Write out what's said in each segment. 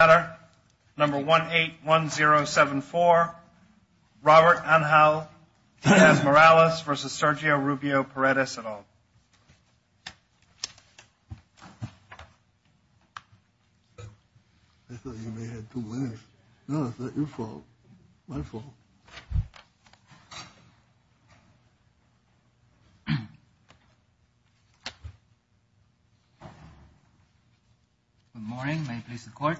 I thought you may have two winners. No, it's not your fault. My fault. Carlos Lugo Good morning, may it please the court.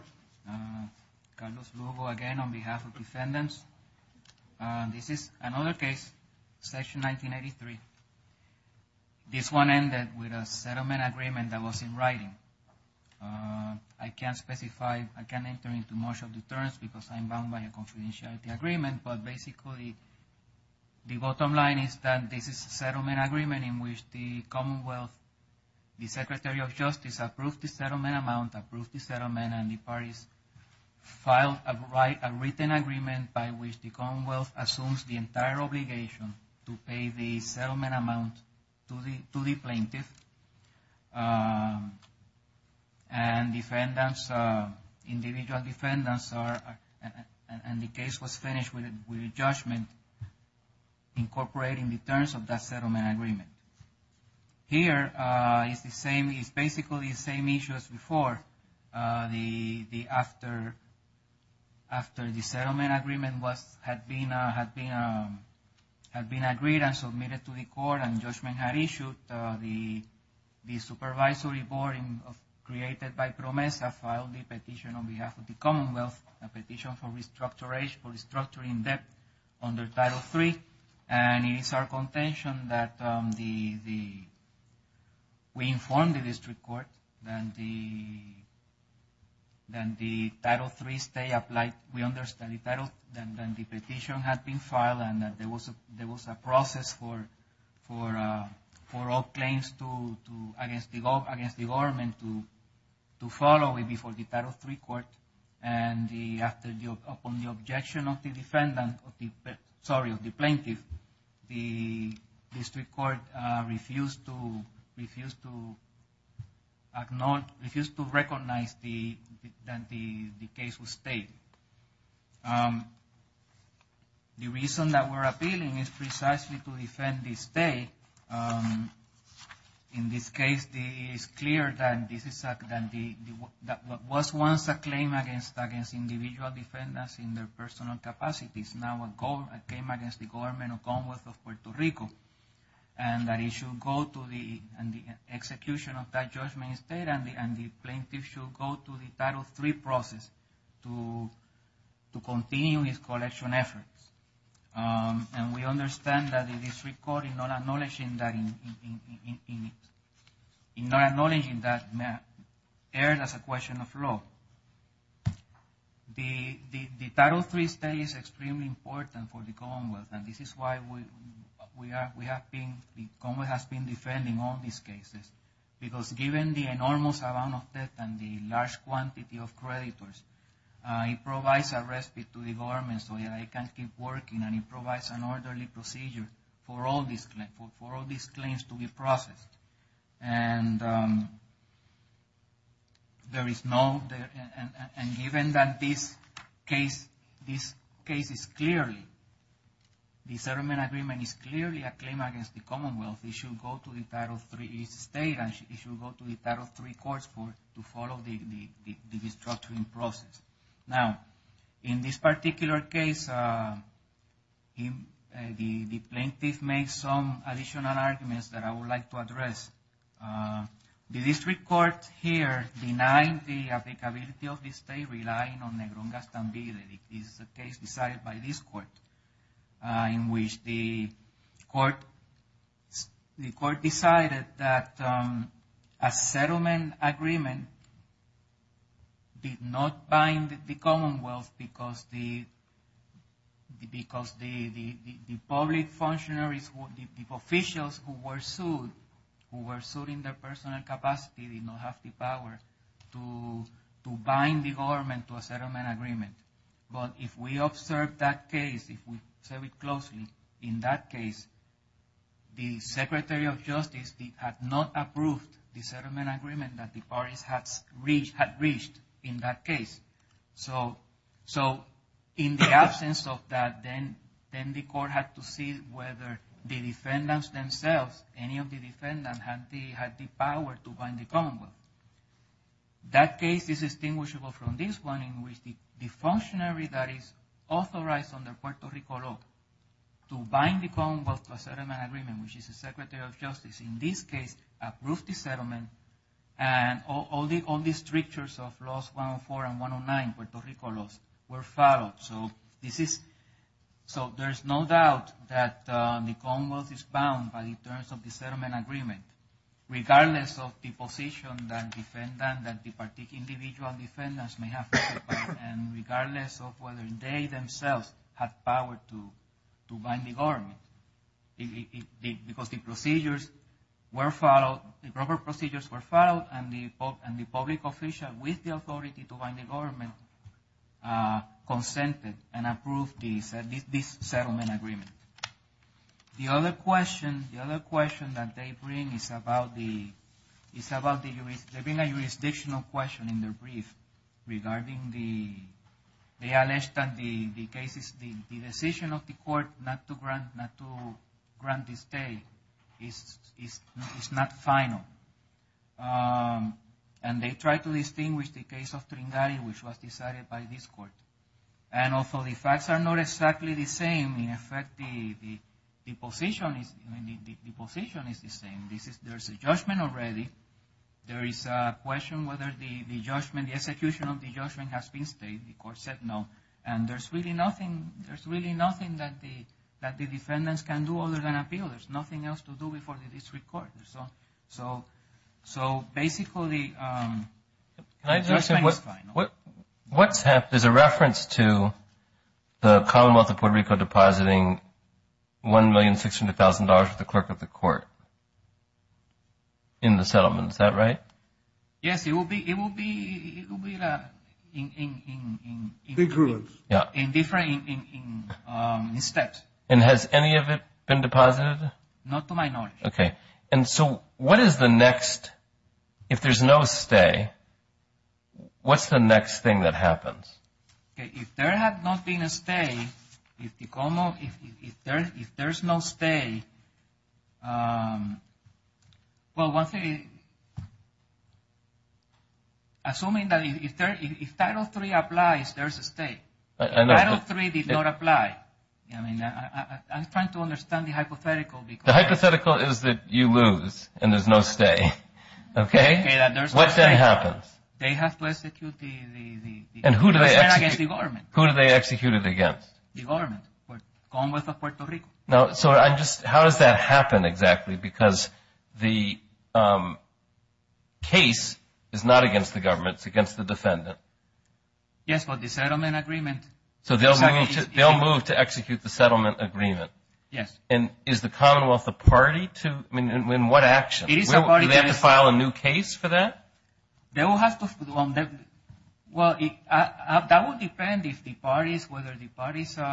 Carlos Lugo again on behalf of defendants. This is another case, section 1983. This one ended with a settlement agreement that was in writing. I can't specify, I can't enter into much of the terms because I'm bound by a confidentiality agreement, but basically the bottom line is that this is a settlement agreement in which the Commonwealth, the Secretary of Justice approved the settlement amount, approved the settlement and the parties filed a written agreement by which the Commonwealth assumes the entire obligation to pay the settlement amount to the plaintiff and defendants, individual defendants are, and the case was finished with a judgment incorporating the terms of that settlement agreement. Here is the same, it's basically the same issue as before. After the settlement agreement had been agreed and submitted to the court and judgment had issued, the supervisory board created by PROMESA filed a petition on behalf of the Commonwealth, a petition for restructuring debt under Title III. And it is our contention that we informed the district court that the Title III stay applied, we understood the title, then the petition had been filed and there was a process for all claims against the government to follow before the Title III court and upon the objection of the defendant, sorry, of the plaintiff, the district court refused to acknowledge, refused to recognize that the case was stayed. The reason that we're appealing is precisely to defend the state. In this case, it is clear that this was once a claim against individual defendants in their personal capacities, now a claim against the government of the Commonwealth of Puerto Rico, and that it should go to the execution of that judgment state and the plaintiff should go to the Title III process to continue his collection efforts. And we understand that the district court, in not acknowledging that, erred as a question of law. The Title III stay is extremely important for the Commonwealth and this is why we have been, the Commonwealth has been defending all these cases. Because given the enormous amount of debt and the large quantity of creditors, it provides a respite to the government so that it can keep working and it provides an orderly procedure for all these claims to be processed. And given that this case is clearly, the settlement agreement is clearly a claim against the Commonwealth, it should go to the Title III state and it should go to the Title III courts to follow the restructuring process. Now, in this particular case, the plaintiff made some additional arguments that I would like to address. The district court here denied the applicability of this stay, relying on Negrón-Castambide. This is a case decided by this court in which the court decided that a settlement agreement did not bind the Commonwealth because the public functionaries, the officials who were sued, who were sued in their personal capacity did not have the power to bind the government to a settlement agreement. But if we observe that case, if we observe it closely, in that case, the Secretary of Justice had not approved the settlement agreement that the parties had reached in that case. So in the absence of that, then the court had to see whether the defendants themselves, any of the defendants, had the power to bind the Commonwealth. That case is distinguishable from this one in which the functionary that is authorized under Puerto Rico law to bind the Commonwealth to a settlement agreement, which is the Secretary of Justice, in this case, approved the settlement. And all the strictures of Laws 104 and 109, Puerto Rico laws, were followed. So there is no doubt that the Commonwealth is bound by the terms of the settlement agreement, regardless of the position that the particular individual defendants may have, and regardless of whether they themselves have power to bind the government. Because the procedures were followed, the proper procedures were followed, and the public official with the authority to bind the government consented and approved this settlement agreement. The other question, the other question that they bring is about the, it's about the, they bring a jurisdictional question in their brief regarding the, they allege that the cases, the decision of the court not to grant, not to grant the stay is not final. And they try to distinguish the case of Tringari, which was decided by this court. And although the facts are not exactly the same, in effect, the position is, the position is the same. There's a judgment already. There is a question whether the judgment, the execution of the judgment has been stayed. The court said no. And there's really nothing, there's really nothing that the defendants can do other than appeal. There's nothing else to do before the district court. So basically, the judgment is final. What's happened, there's a reference to the Commonwealth of Puerto Rico depositing $1,600,000 to the clerk of the court in the settlement. Is that right? Yes, it will be, it will be, it will be in different steps. And has any of it been deposited? Not to my knowledge. Okay. And so what is the next, if there's no stay, what's the next thing that happens? If there had not been a stay, if the Commonwealth, if there's no stay, well, one thing, assuming that if Title III applies, there's a stay. If Title III did not apply, I mean, I'm trying to understand the hypothetical. The hypothetical is that you lose and there's no stay. Okay. What then happens? They have to execute the... And who do they execute? The government. Who do they execute it against? The government, the Commonwealth of Puerto Rico. Now, so I just, how does that happen exactly? Because the case is not against the government, it's against the defendant. Yes, but the settlement agreement... So they'll move to execute the settlement agreement. Yes. And is the Commonwealth the party to, I mean, in what action? It is the party to execute. Do they have to file a new case for that? They will have to, well, that will depend if the parties, whether the parties in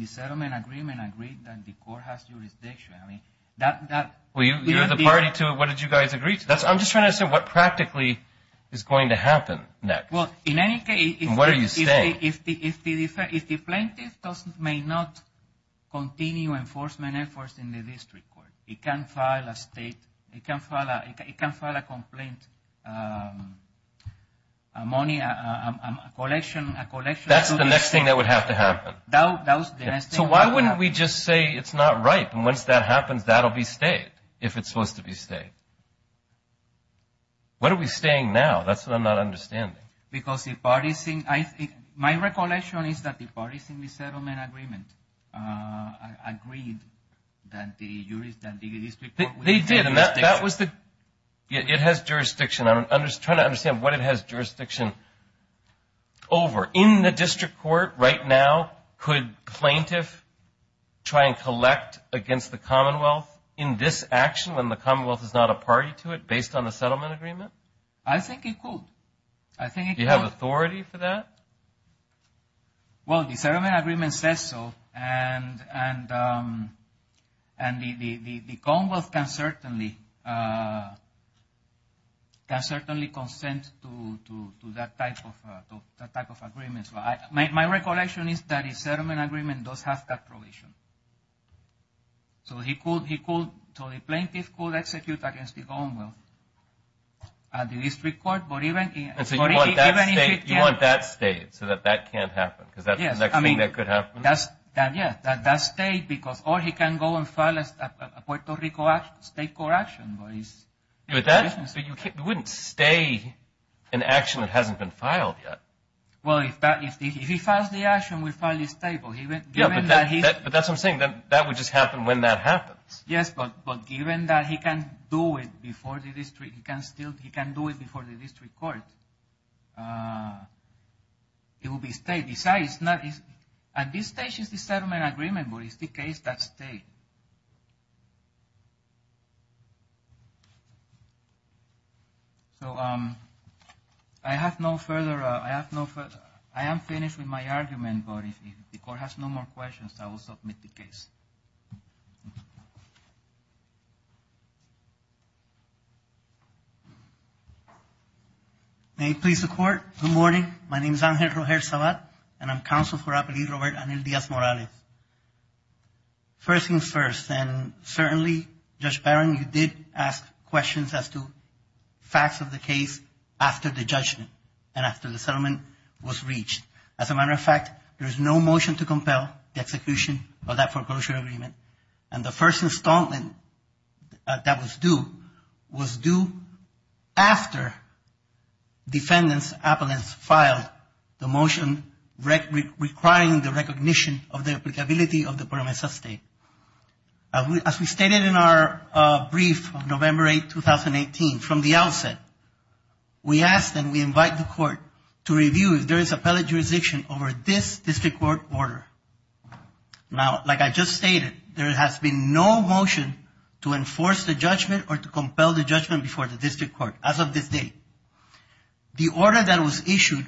the settlement agreement agree that the court has jurisdiction. I mean, that... Well, you're the party to it. What did you guys agree to? I'm just trying to understand what practically is going to happen next. Well, in any case... And what are you staying? If the plaintiff may not continue enforcement efforts in the district court, he can file a state, he can file a complaint, a money, a collection... That's the next thing that would have to happen. That was the next thing... So why wouldn't we just say it's not right, and once that happens, that'll be stayed, if it's supposed to be stayed? What are we staying now? That's what I'm not understanding. Because the parties... My recollection is that the parties in the settlement agreement agreed that the district court... They did, and that was the... It has jurisdiction. I'm just trying to understand what it has jurisdiction over. In the district court right now, could plaintiff try and collect against the Commonwealth in this action, when the Commonwealth is not a party to it, based on the settlement agreement? I think it could. Do you have authority for that? Well, the settlement agreement says so, and the Commonwealth can certainly consent to that type of agreement. My recollection is that the settlement agreement does have that provision. So the plaintiff could execute against the Commonwealth at the district court, but even... And so you want that stayed, so that that can't happen, because that's the next thing that could happen? Yes, that's stayed, because or he can go and file a Puerto Rico state court action. But that wouldn't stay an action that hasn't been filed yet. Well, if he files the action, we file his table. But that's what I'm saying, that would just happen when that happens. Yes, but given that he can do it before the district court, it will be stayed. Besides, at this stage, it's the settlement agreement, but it's the case that stayed. Thank you. So I have no further... I am finished with my argument, but if the court has no more questions, I will submit the case. May it please the court. Good morning. My name is Angel Roger Sabat, and I'm counsel for Appellee Robert Anel Diaz-Morales. First things first, and certainly, Judge Barron, you did ask questions as to facts of the case after the judgment and after the settlement was reached. As a matter of fact, there is no motion to compel the execution of that foreclosure agreement, and the first installment that was due was due after defendants' appellants filed the motion requiring the recognition of the applicability of the Promesa State. As we stated in our brief of November 8, 2018, from the outset, we asked and we invite the court to review if there is appellate jurisdiction over this district court order. Now, like I just stated, there has been no motion to enforce the judgment or to compel the judgment before the district court as of this date. The order that was issued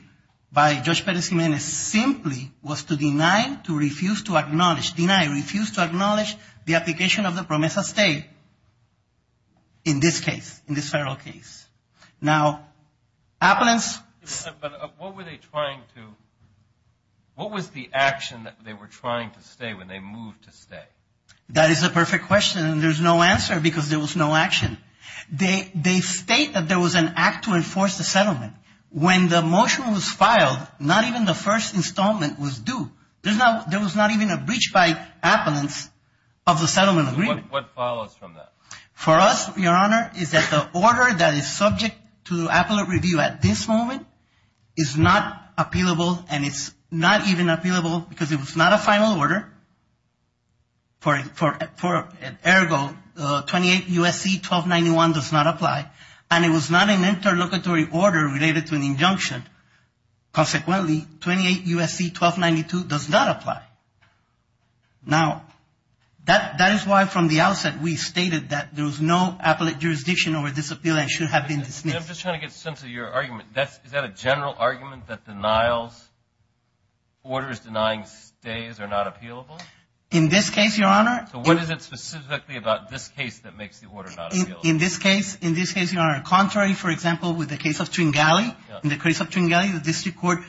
by Judge Perez Jimenez simply was to deny, to refuse to acknowledge, deny, refuse to acknowledge the application of the Promesa State in this case, in this federal case. Now, appellants – But what were they trying to – what was the action that they were trying to stay when they moved to stay? That is the perfect question, and there's no answer because there was no action. They state that there was an act to enforce the settlement. When the motion was filed, not even the first installment was due. There was not even a breach by appellants of the settlement agreement. What follows from that? For us, Your Honor, is that the order that is subject to appellate review at this moment is not appealable, and it's not even appealable because it was not a final order. Ergo, 28 U.S.C. 1291 does not apply, and it was not an interlocutory order related to an injunction. Consequently, 28 U.S.C. 1292 does not apply. Now, that is why from the outset we stated that there was no appellate jurisdiction over this appeal and should have been dismissed. Is that a general argument that denials, orders denying stays are not appealable? In this case, Your Honor. So what is it specifically about this case that makes the order not appealable? In this case, Your Honor, contrary, for example, with the case of Tringali, in the case of Tringali the district court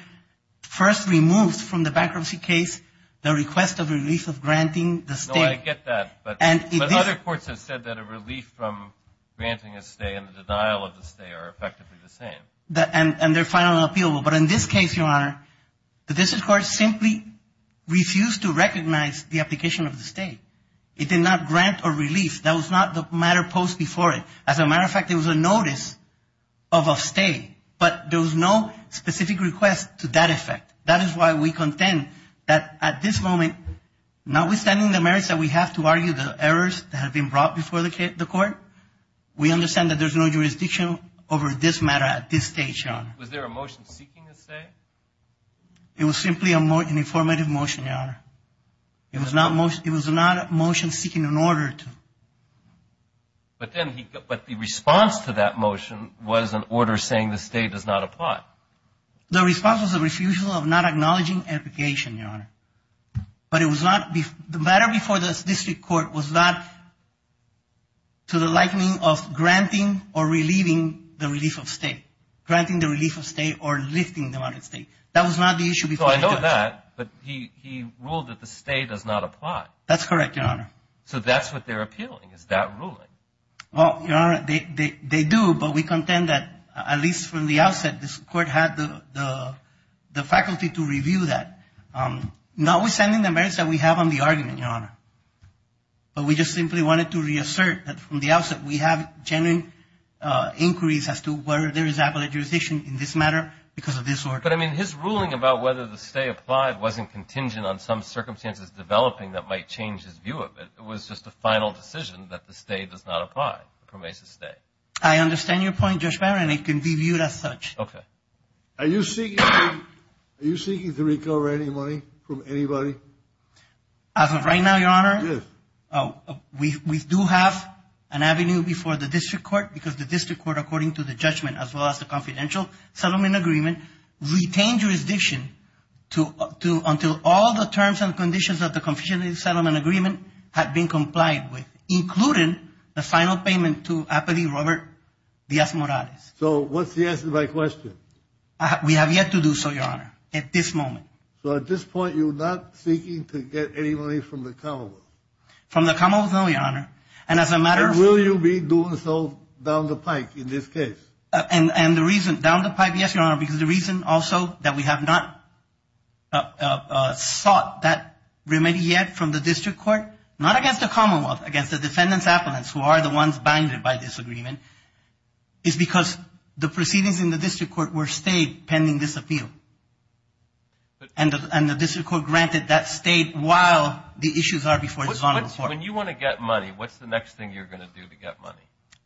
first removes from the bankruptcy case the request of relief of granting the stay. No, I get that, but other courts have said that a relief from granting a stay and the denial of the stay are effectively the same. And they're final and appealable. But in this case, Your Honor, the district court simply refused to recognize the application of the stay. It did not grant a relief. That was not the matter posed before it. As a matter of fact, there was a notice of a stay, but there was no specific request to that effect. That is why we contend that at this moment, notwithstanding the merits that we have to argue, the errors that have been brought before the court, we understand that there's no jurisdiction over this matter at this stage, Your Honor. Was there a motion seeking a stay? It was simply an informative motion, Your Honor. It was not a motion seeking an order to. But the response to that motion was an order saying the stay does not apply. The response was a refusal of not acknowledging application, Your Honor. But it was not the matter before the district court was not to the likening of granting or relieving the relief of stay, granting the relief of stay or lifting the amount of stay. That was not the issue before. I know that, but he ruled that the stay does not apply. That's correct, Your Honor. So that's what they're appealing, is that ruling. Well, Your Honor, they do, but we contend that at least from the outset, this court had the faculty to review that. Notwithstanding the merits that we have on the argument, Your Honor, but we just simply wanted to reassert that from the outset we have genuine inquiries as to whether there is application in this matter because of this order. But, I mean, his ruling about whether the stay applied wasn't contingent on some circumstances developing that might change his view of it. It was just a final decision that the stay does not apply, the permissive stay. I understand your point, Judge Barron, and it can be viewed as such. Okay. Are you seeking to recover any money from anybody? As of right now, Your Honor, we do have an avenue before the district court because the district court, according to the judgment as well as the confidential settlement agreement, retained jurisdiction until all the terms and conditions of the confidential settlement agreement had been complied with, including the final payment to Apathy Robert Diaz-Morales. So what's the answer to my question? We have yet to do so, Your Honor, at this moment. So at this point you're not seeking to get any money from the commonwealth? From the commonwealth, no, Your Honor. And as a matter of fact, And will you be doing so down the pike in this case? And the reason down the pike, yes, Your Honor, because the reason also that we have not sought that remedy yet from the district court, not against the commonwealth, against the defendant's appellants who are the ones binded by this agreement, is because the proceedings in the district court were stayed pending this appeal. And the district court granted that stayed while the issues are before this honorable court. When you want to get money, what's the next thing you're going to do to get money?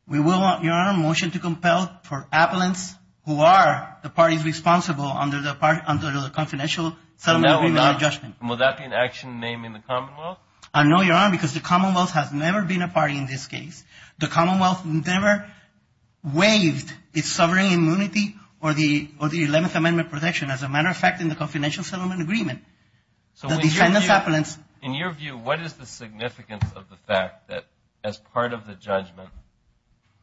We will, Your Honor, motion to compel for appellants who are the parties responsible under the confidential settlement agreement judgment. And will that be an action named in the commonwealth? No, Your Honor, because the commonwealth has never been a party in this case. The commonwealth never waived its sovereign immunity or the 11th Amendment protection, as a matter of fact, in the confidential settlement agreement. So in your view, what is the significance of the fact that as part of the judgment,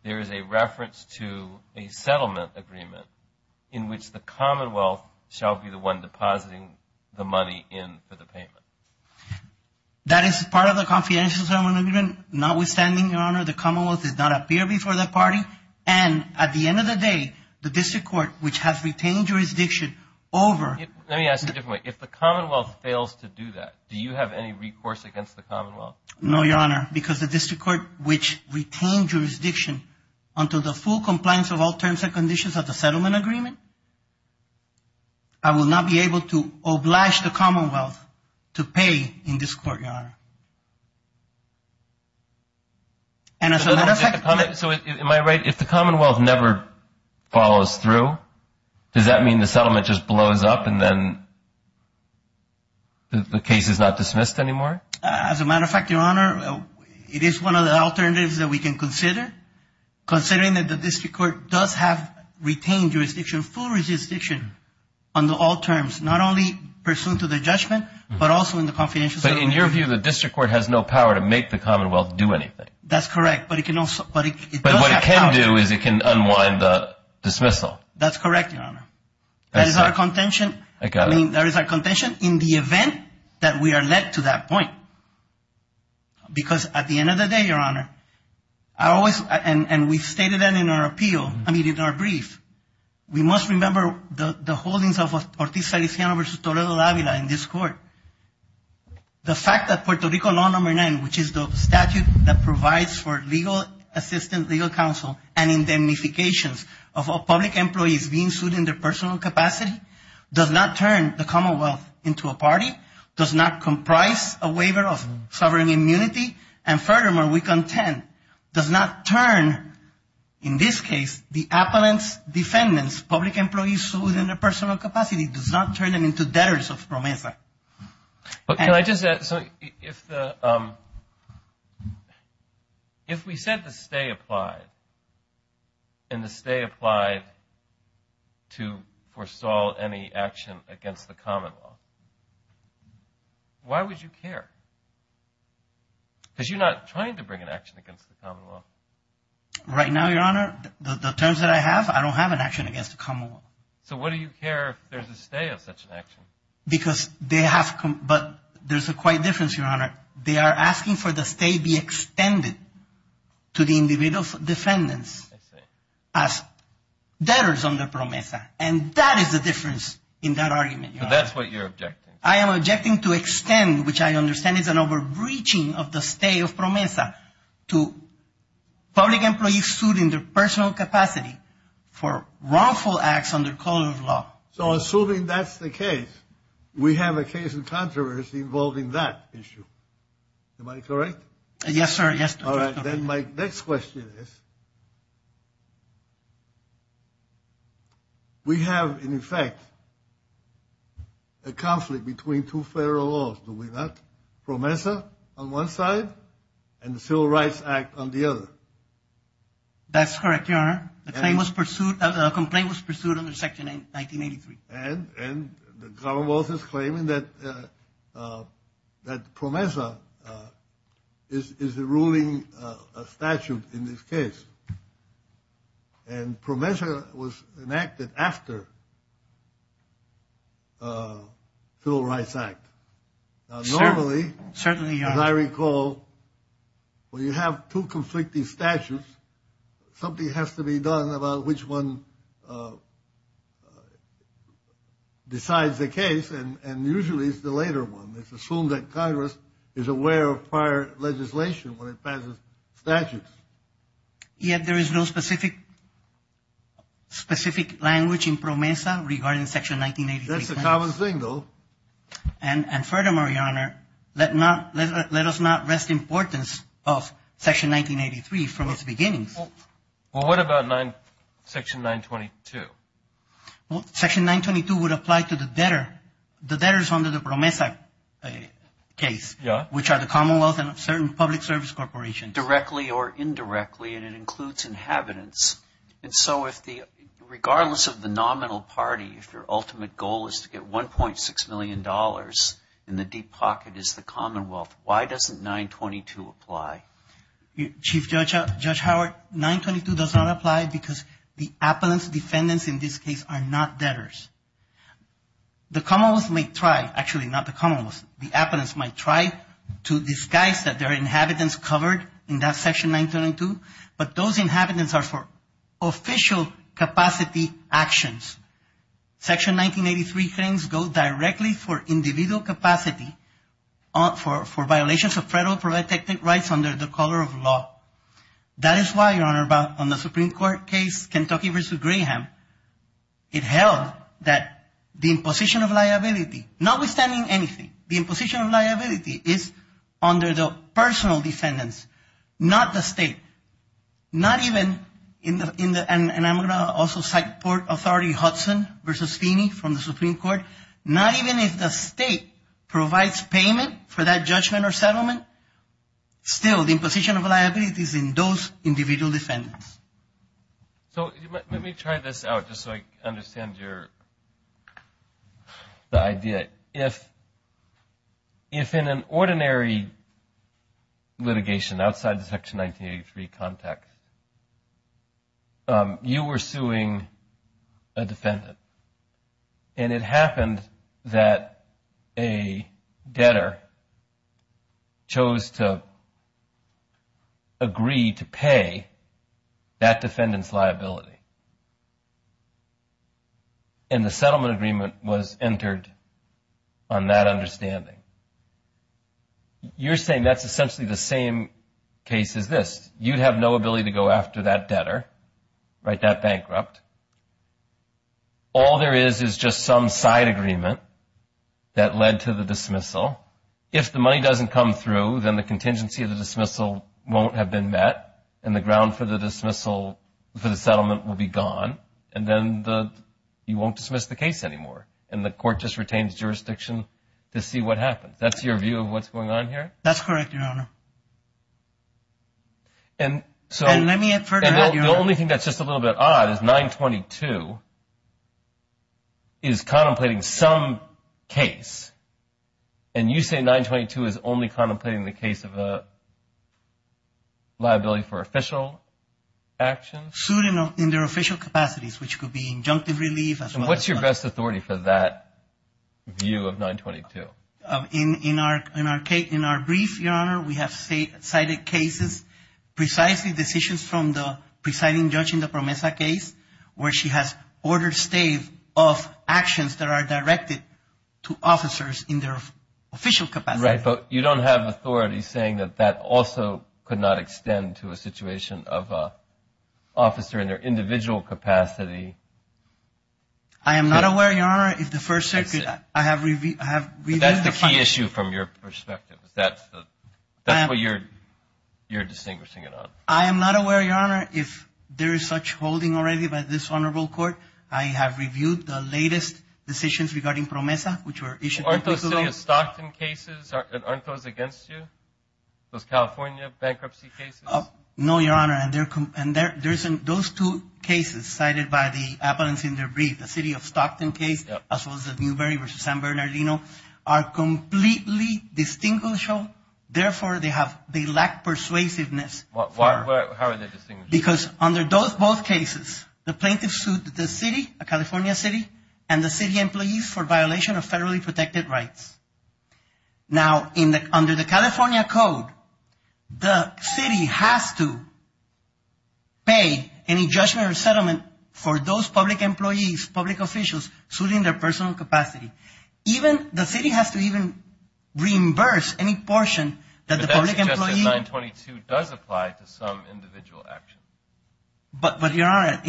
there is a reference to a settlement agreement in which the commonwealth shall be the one depositing the money in for the payment? That is part of the confidential settlement agreement. Notwithstanding, Your Honor, the commonwealth did not appear before the party. And at the end of the day, the district court, which has retained jurisdiction over – Let me ask you a different way. If the commonwealth fails to do that, do you have any recourse against the commonwealth? No, Your Honor, because the district court, which retained jurisdiction under the full compliance of all terms and conditions of the settlement agreement, I will not be able to oblige the commonwealth to pay in this court, Your Honor. And as a matter of fact – So am I right? If the commonwealth never follows through, does that mean the settlement just blows up and then the case is not dismissed anymore? As a matter of fact, Your Honor, it is one of the alternatives that we can consider, considering that the district court does have retained jurisdiction, full jurisdiction under all terms, not only pursuant to the judgment, but also in the confidential settlement agreement. But in your view, the district court has no power to make the commonwealth do anything. That's correct, but it can also – But what it can do is it can unwind the dismissal. That's correct, Your Honor. That is our contention. I got it. That is our contention in the event that we are led to that point. Because at the end of the day, Your Honor, I always – and we stated that in our appeal, I mean, in our brief. We must remember the holdings of Ortiz-Saliciano v. Toledo de Avila in this court. The fact that Puerto Rico Law No. 9, which is the statute that provides for legal assistance, legal counsel, and indemnifications of public employees being sued in their personal capacity, does not turn the commonwealth into a party, does not comprise a waiver of sovereign immunity, and furthermore, we contend, does not turn, in this case, the appellant's defendants, public employees sued in their personal capacity, does not turn them into debtors of promesa. But can I just add something? If we said the stay applied and the stay applied to foresaw any action against the commonwealth, why would you care? Because you're not trying to bring an action against the commonwealth. Right now, Your Honor, the terms that I have, I don't have an action against the commonwealth. So why do you care if there's a stay of such an action? Because they have come, but there's a quite difference, Your Honor. They are asking for the stay be extended to the individual defendants as debtors on their promesa. And that is the difference in that argument. So that's what you're objecting to. I am objecting to extend, which I understand is an over-breaching of the stay of promesa, to public employees sued in their personal capacity for wrongful acts under common law. So assuming that's the case, we have a case in controversy involving that issue. Am I correct? Yes, sir, yes. All right. Then my next question is, we have, in effect, a conflict between two federal laws, do we not? Promesa on one side and the Civil Rights Act on the other. That's correct, Your Honor. The complaint was pursued under Section 1983. And the commonwealth is claiming that promesa is ruling a statute in this case. And promesa was enacted after the Civil Rights Act. Normally, as I recall, when you have two conflicting statutes, something has to be done about which one decides the case, and usually it's the later one. It's assumed that Congress is aware of prior legislation when it passes statutes. Yet there is no specific language in promesa regarding Section 1983. That's a common thing, though. And furthermore, Your Honor, let us not rest importance of Section 1983 from its beginnings. Well, what about Section 922? Well, Section 922 would apply to the debtors under the promesa case, which are the commonwealth and certain public service corporations. Directly or indirectly, and it includes inhabitants. And so regardless of the nominal party, if your ultimate goal is to get $1.6 million in the deep pocket is the commonwealth, why doesn't 922 apply? Chief Judge Howard, 922 does not apply because the appellant's defendants in this case are not debtors. The commonwealth may try. Actually, not the commonwealth. The appellants might try to disguise that there are inhabitants covered in that Section 922, but those inhabitants are for official capacity actions. Section 1983 claims go directly for individual capacity for violations of federal protected rights under the color of law. That is why, Your Honor, on the Supreme Court case, Kentucky v. Graham, it held that the imposition of liability, notwithstanding anything, the imposition of liability is under the personal defendants, not the state. And I'm going to also cite Port Authority Hudson v. Feeney from the Supreme Court. Not even if the state provides payment for that judgment or settlement, still the imposition of liability is in those individual defendants. So let me try this out just so I understand the idea. If in an ordinary litigation outside the Section 1983 context, you were suing a defendant and it happened that a debtor chose to agree to pay that defendant's liability and the settlement agreement was entered on that understanding, you're saying that's essentially the same case as this. You'd have no ability to go after that debtor, right, that bankrupt. All there is is just some side agreement that led to the dismissal. If the money doesn't come through, then the contingency of the dismissal won't have been met and the ground for the dismissal for the settlement will be gone and then you won't dismiss the case anymore and the court just retains jurisdiction to see what happens. That's your view of what's going on here? That's correct, Your Honor. And let me further add, Your Honor. The only thing that's just a little bit odd is 922 is contemplating some case and you say 922 is only contemplating the case of a liability for official actions? Sued in their official capacities, which could be injunctive relief. And what's your best authority for that view of 922? In our brief, Your Honor, we have cited cases, precisely decisions from the presiding judge in the Promesa case where she has ordered stave of actions that are directed to officers in their official capacity. Right, but you don't have authority saying that that also could not extend to a situation of an officer in their individual capacity. I am not aware, Your Honor, if the First Circuit I have reviewed. That's the key issue from your perspective. That's what you're distinguishing it on. I am not aware, Your Honor, if there is such holding already by this honorable court. I have reviewed the latest decisions regarding Promesa, which were issued. Aren't those city of Stockton cases? Aren't those against you? Those California bankruptcy cases? No, Your Honor. Those two cases cited by the evidence in their brief, the city of Stockton case, as well as the Newberry v. San Bernardino, are completely distinguishable. Therefore, they lack persuasiveness. How are they distinguishable? Because under both cases, the plaintiff sued the city, a California city, and the city employees for violation of federally protected rights. Now, under the California code, the city has to pay any judgment or settlement for those public employees, public officials, suing their personal capacity. The city has to even reimburse any portion that the public employee… But that suggests that 922 does apply to some individual action. But, Your Honor,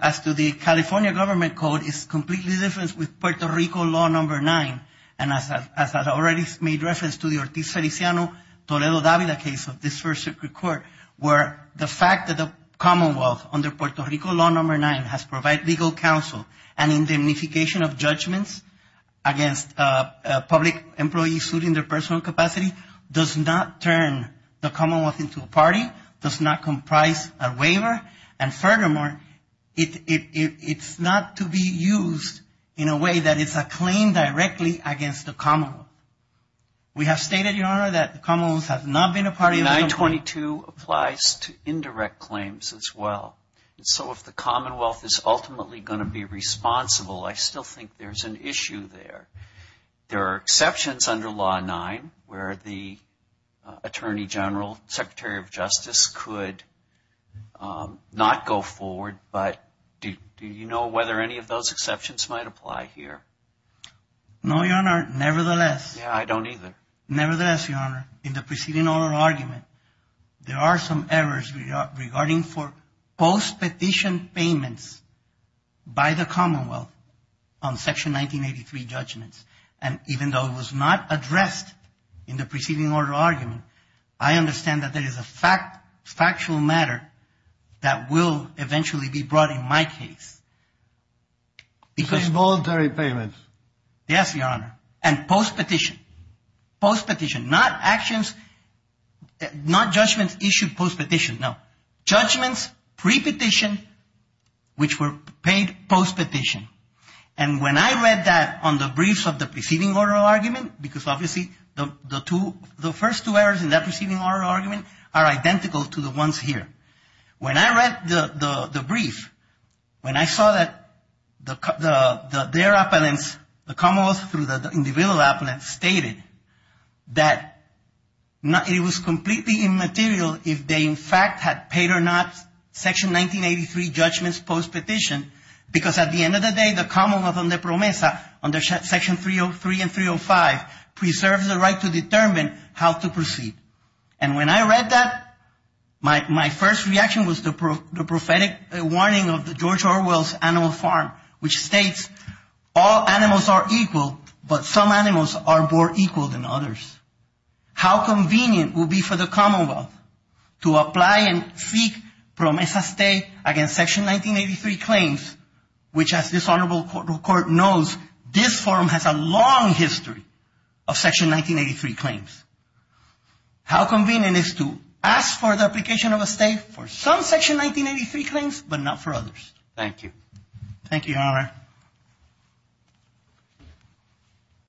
as to the California government code, it's completely different with Puerto Rico law number 9. And as I already made reference to the Ortiz Feliciano Toledo Davila case of this first circuit court, where the fact that the Commonwealth, under Puerto Rico law number 9, has provided legal counsel and indemnification of judgments against public employees suing their personal capacity, does not turn the Commonwealth into a party, does not comprise a waiver, and furthermore, it's not to be used in a way that it's a claim directly against the Commonwealth. We have stated, Your Honor, that the Commonwealth has not been a party… 922 applies to indirect claims as well. And so if the Commonwealth is ultimately going to be responsible, I still think there's an issue there. There are exceptions under law 9 where the Attorney General, Secretary of Justice, could not go forward, but do you know whether any of those exceptions might apply here? No, Your Honor, nevertheless… Yeah, I don't either. Nevertheless, Your Honor, in the preceding oral argument, there are some errors regarding for post-petition payments by the Commonwealth on Section 1983 judgments. And even though it was not addressed in the preceding oral argument, I understand that there is a factual matter that will eventually be brought in my case. So voluntary payments? Yes, Your Honor, and post-petition. Post-petition, not judgments issued post-petition. No, judgments pre-petition which were paid post-petition. And when I read that on the briefs of the preceding oral argument, because obviously the first two errors in that preceding oral argument are identical to the ones here. When I read the brief, when I saw that their appellants, the Commonwealth through the individual appellants, stated that it was completely immaterial if they in fact had paid or not Section 1983 judgments post-petition because at the end of the day, the Commonwealth under PROMESA, under Section 303 and 305, preserves the right to determine how to proceed. And when I read that, my first reaction was the prophetic warning of the George Orwell's Animal Farm, which states all animals are equal, but some animals are more equal than others. How convenient would it be for the Commonwealth to apply and seek PROMESA stay against Section 1983 claims, which as this Honorable Court knows, this forum has a long history of Section 1983 claims. How convenient is to ask for the application of a stay for some Section 1983 claims, but not for others. Thank you. Thank you, Your Honor.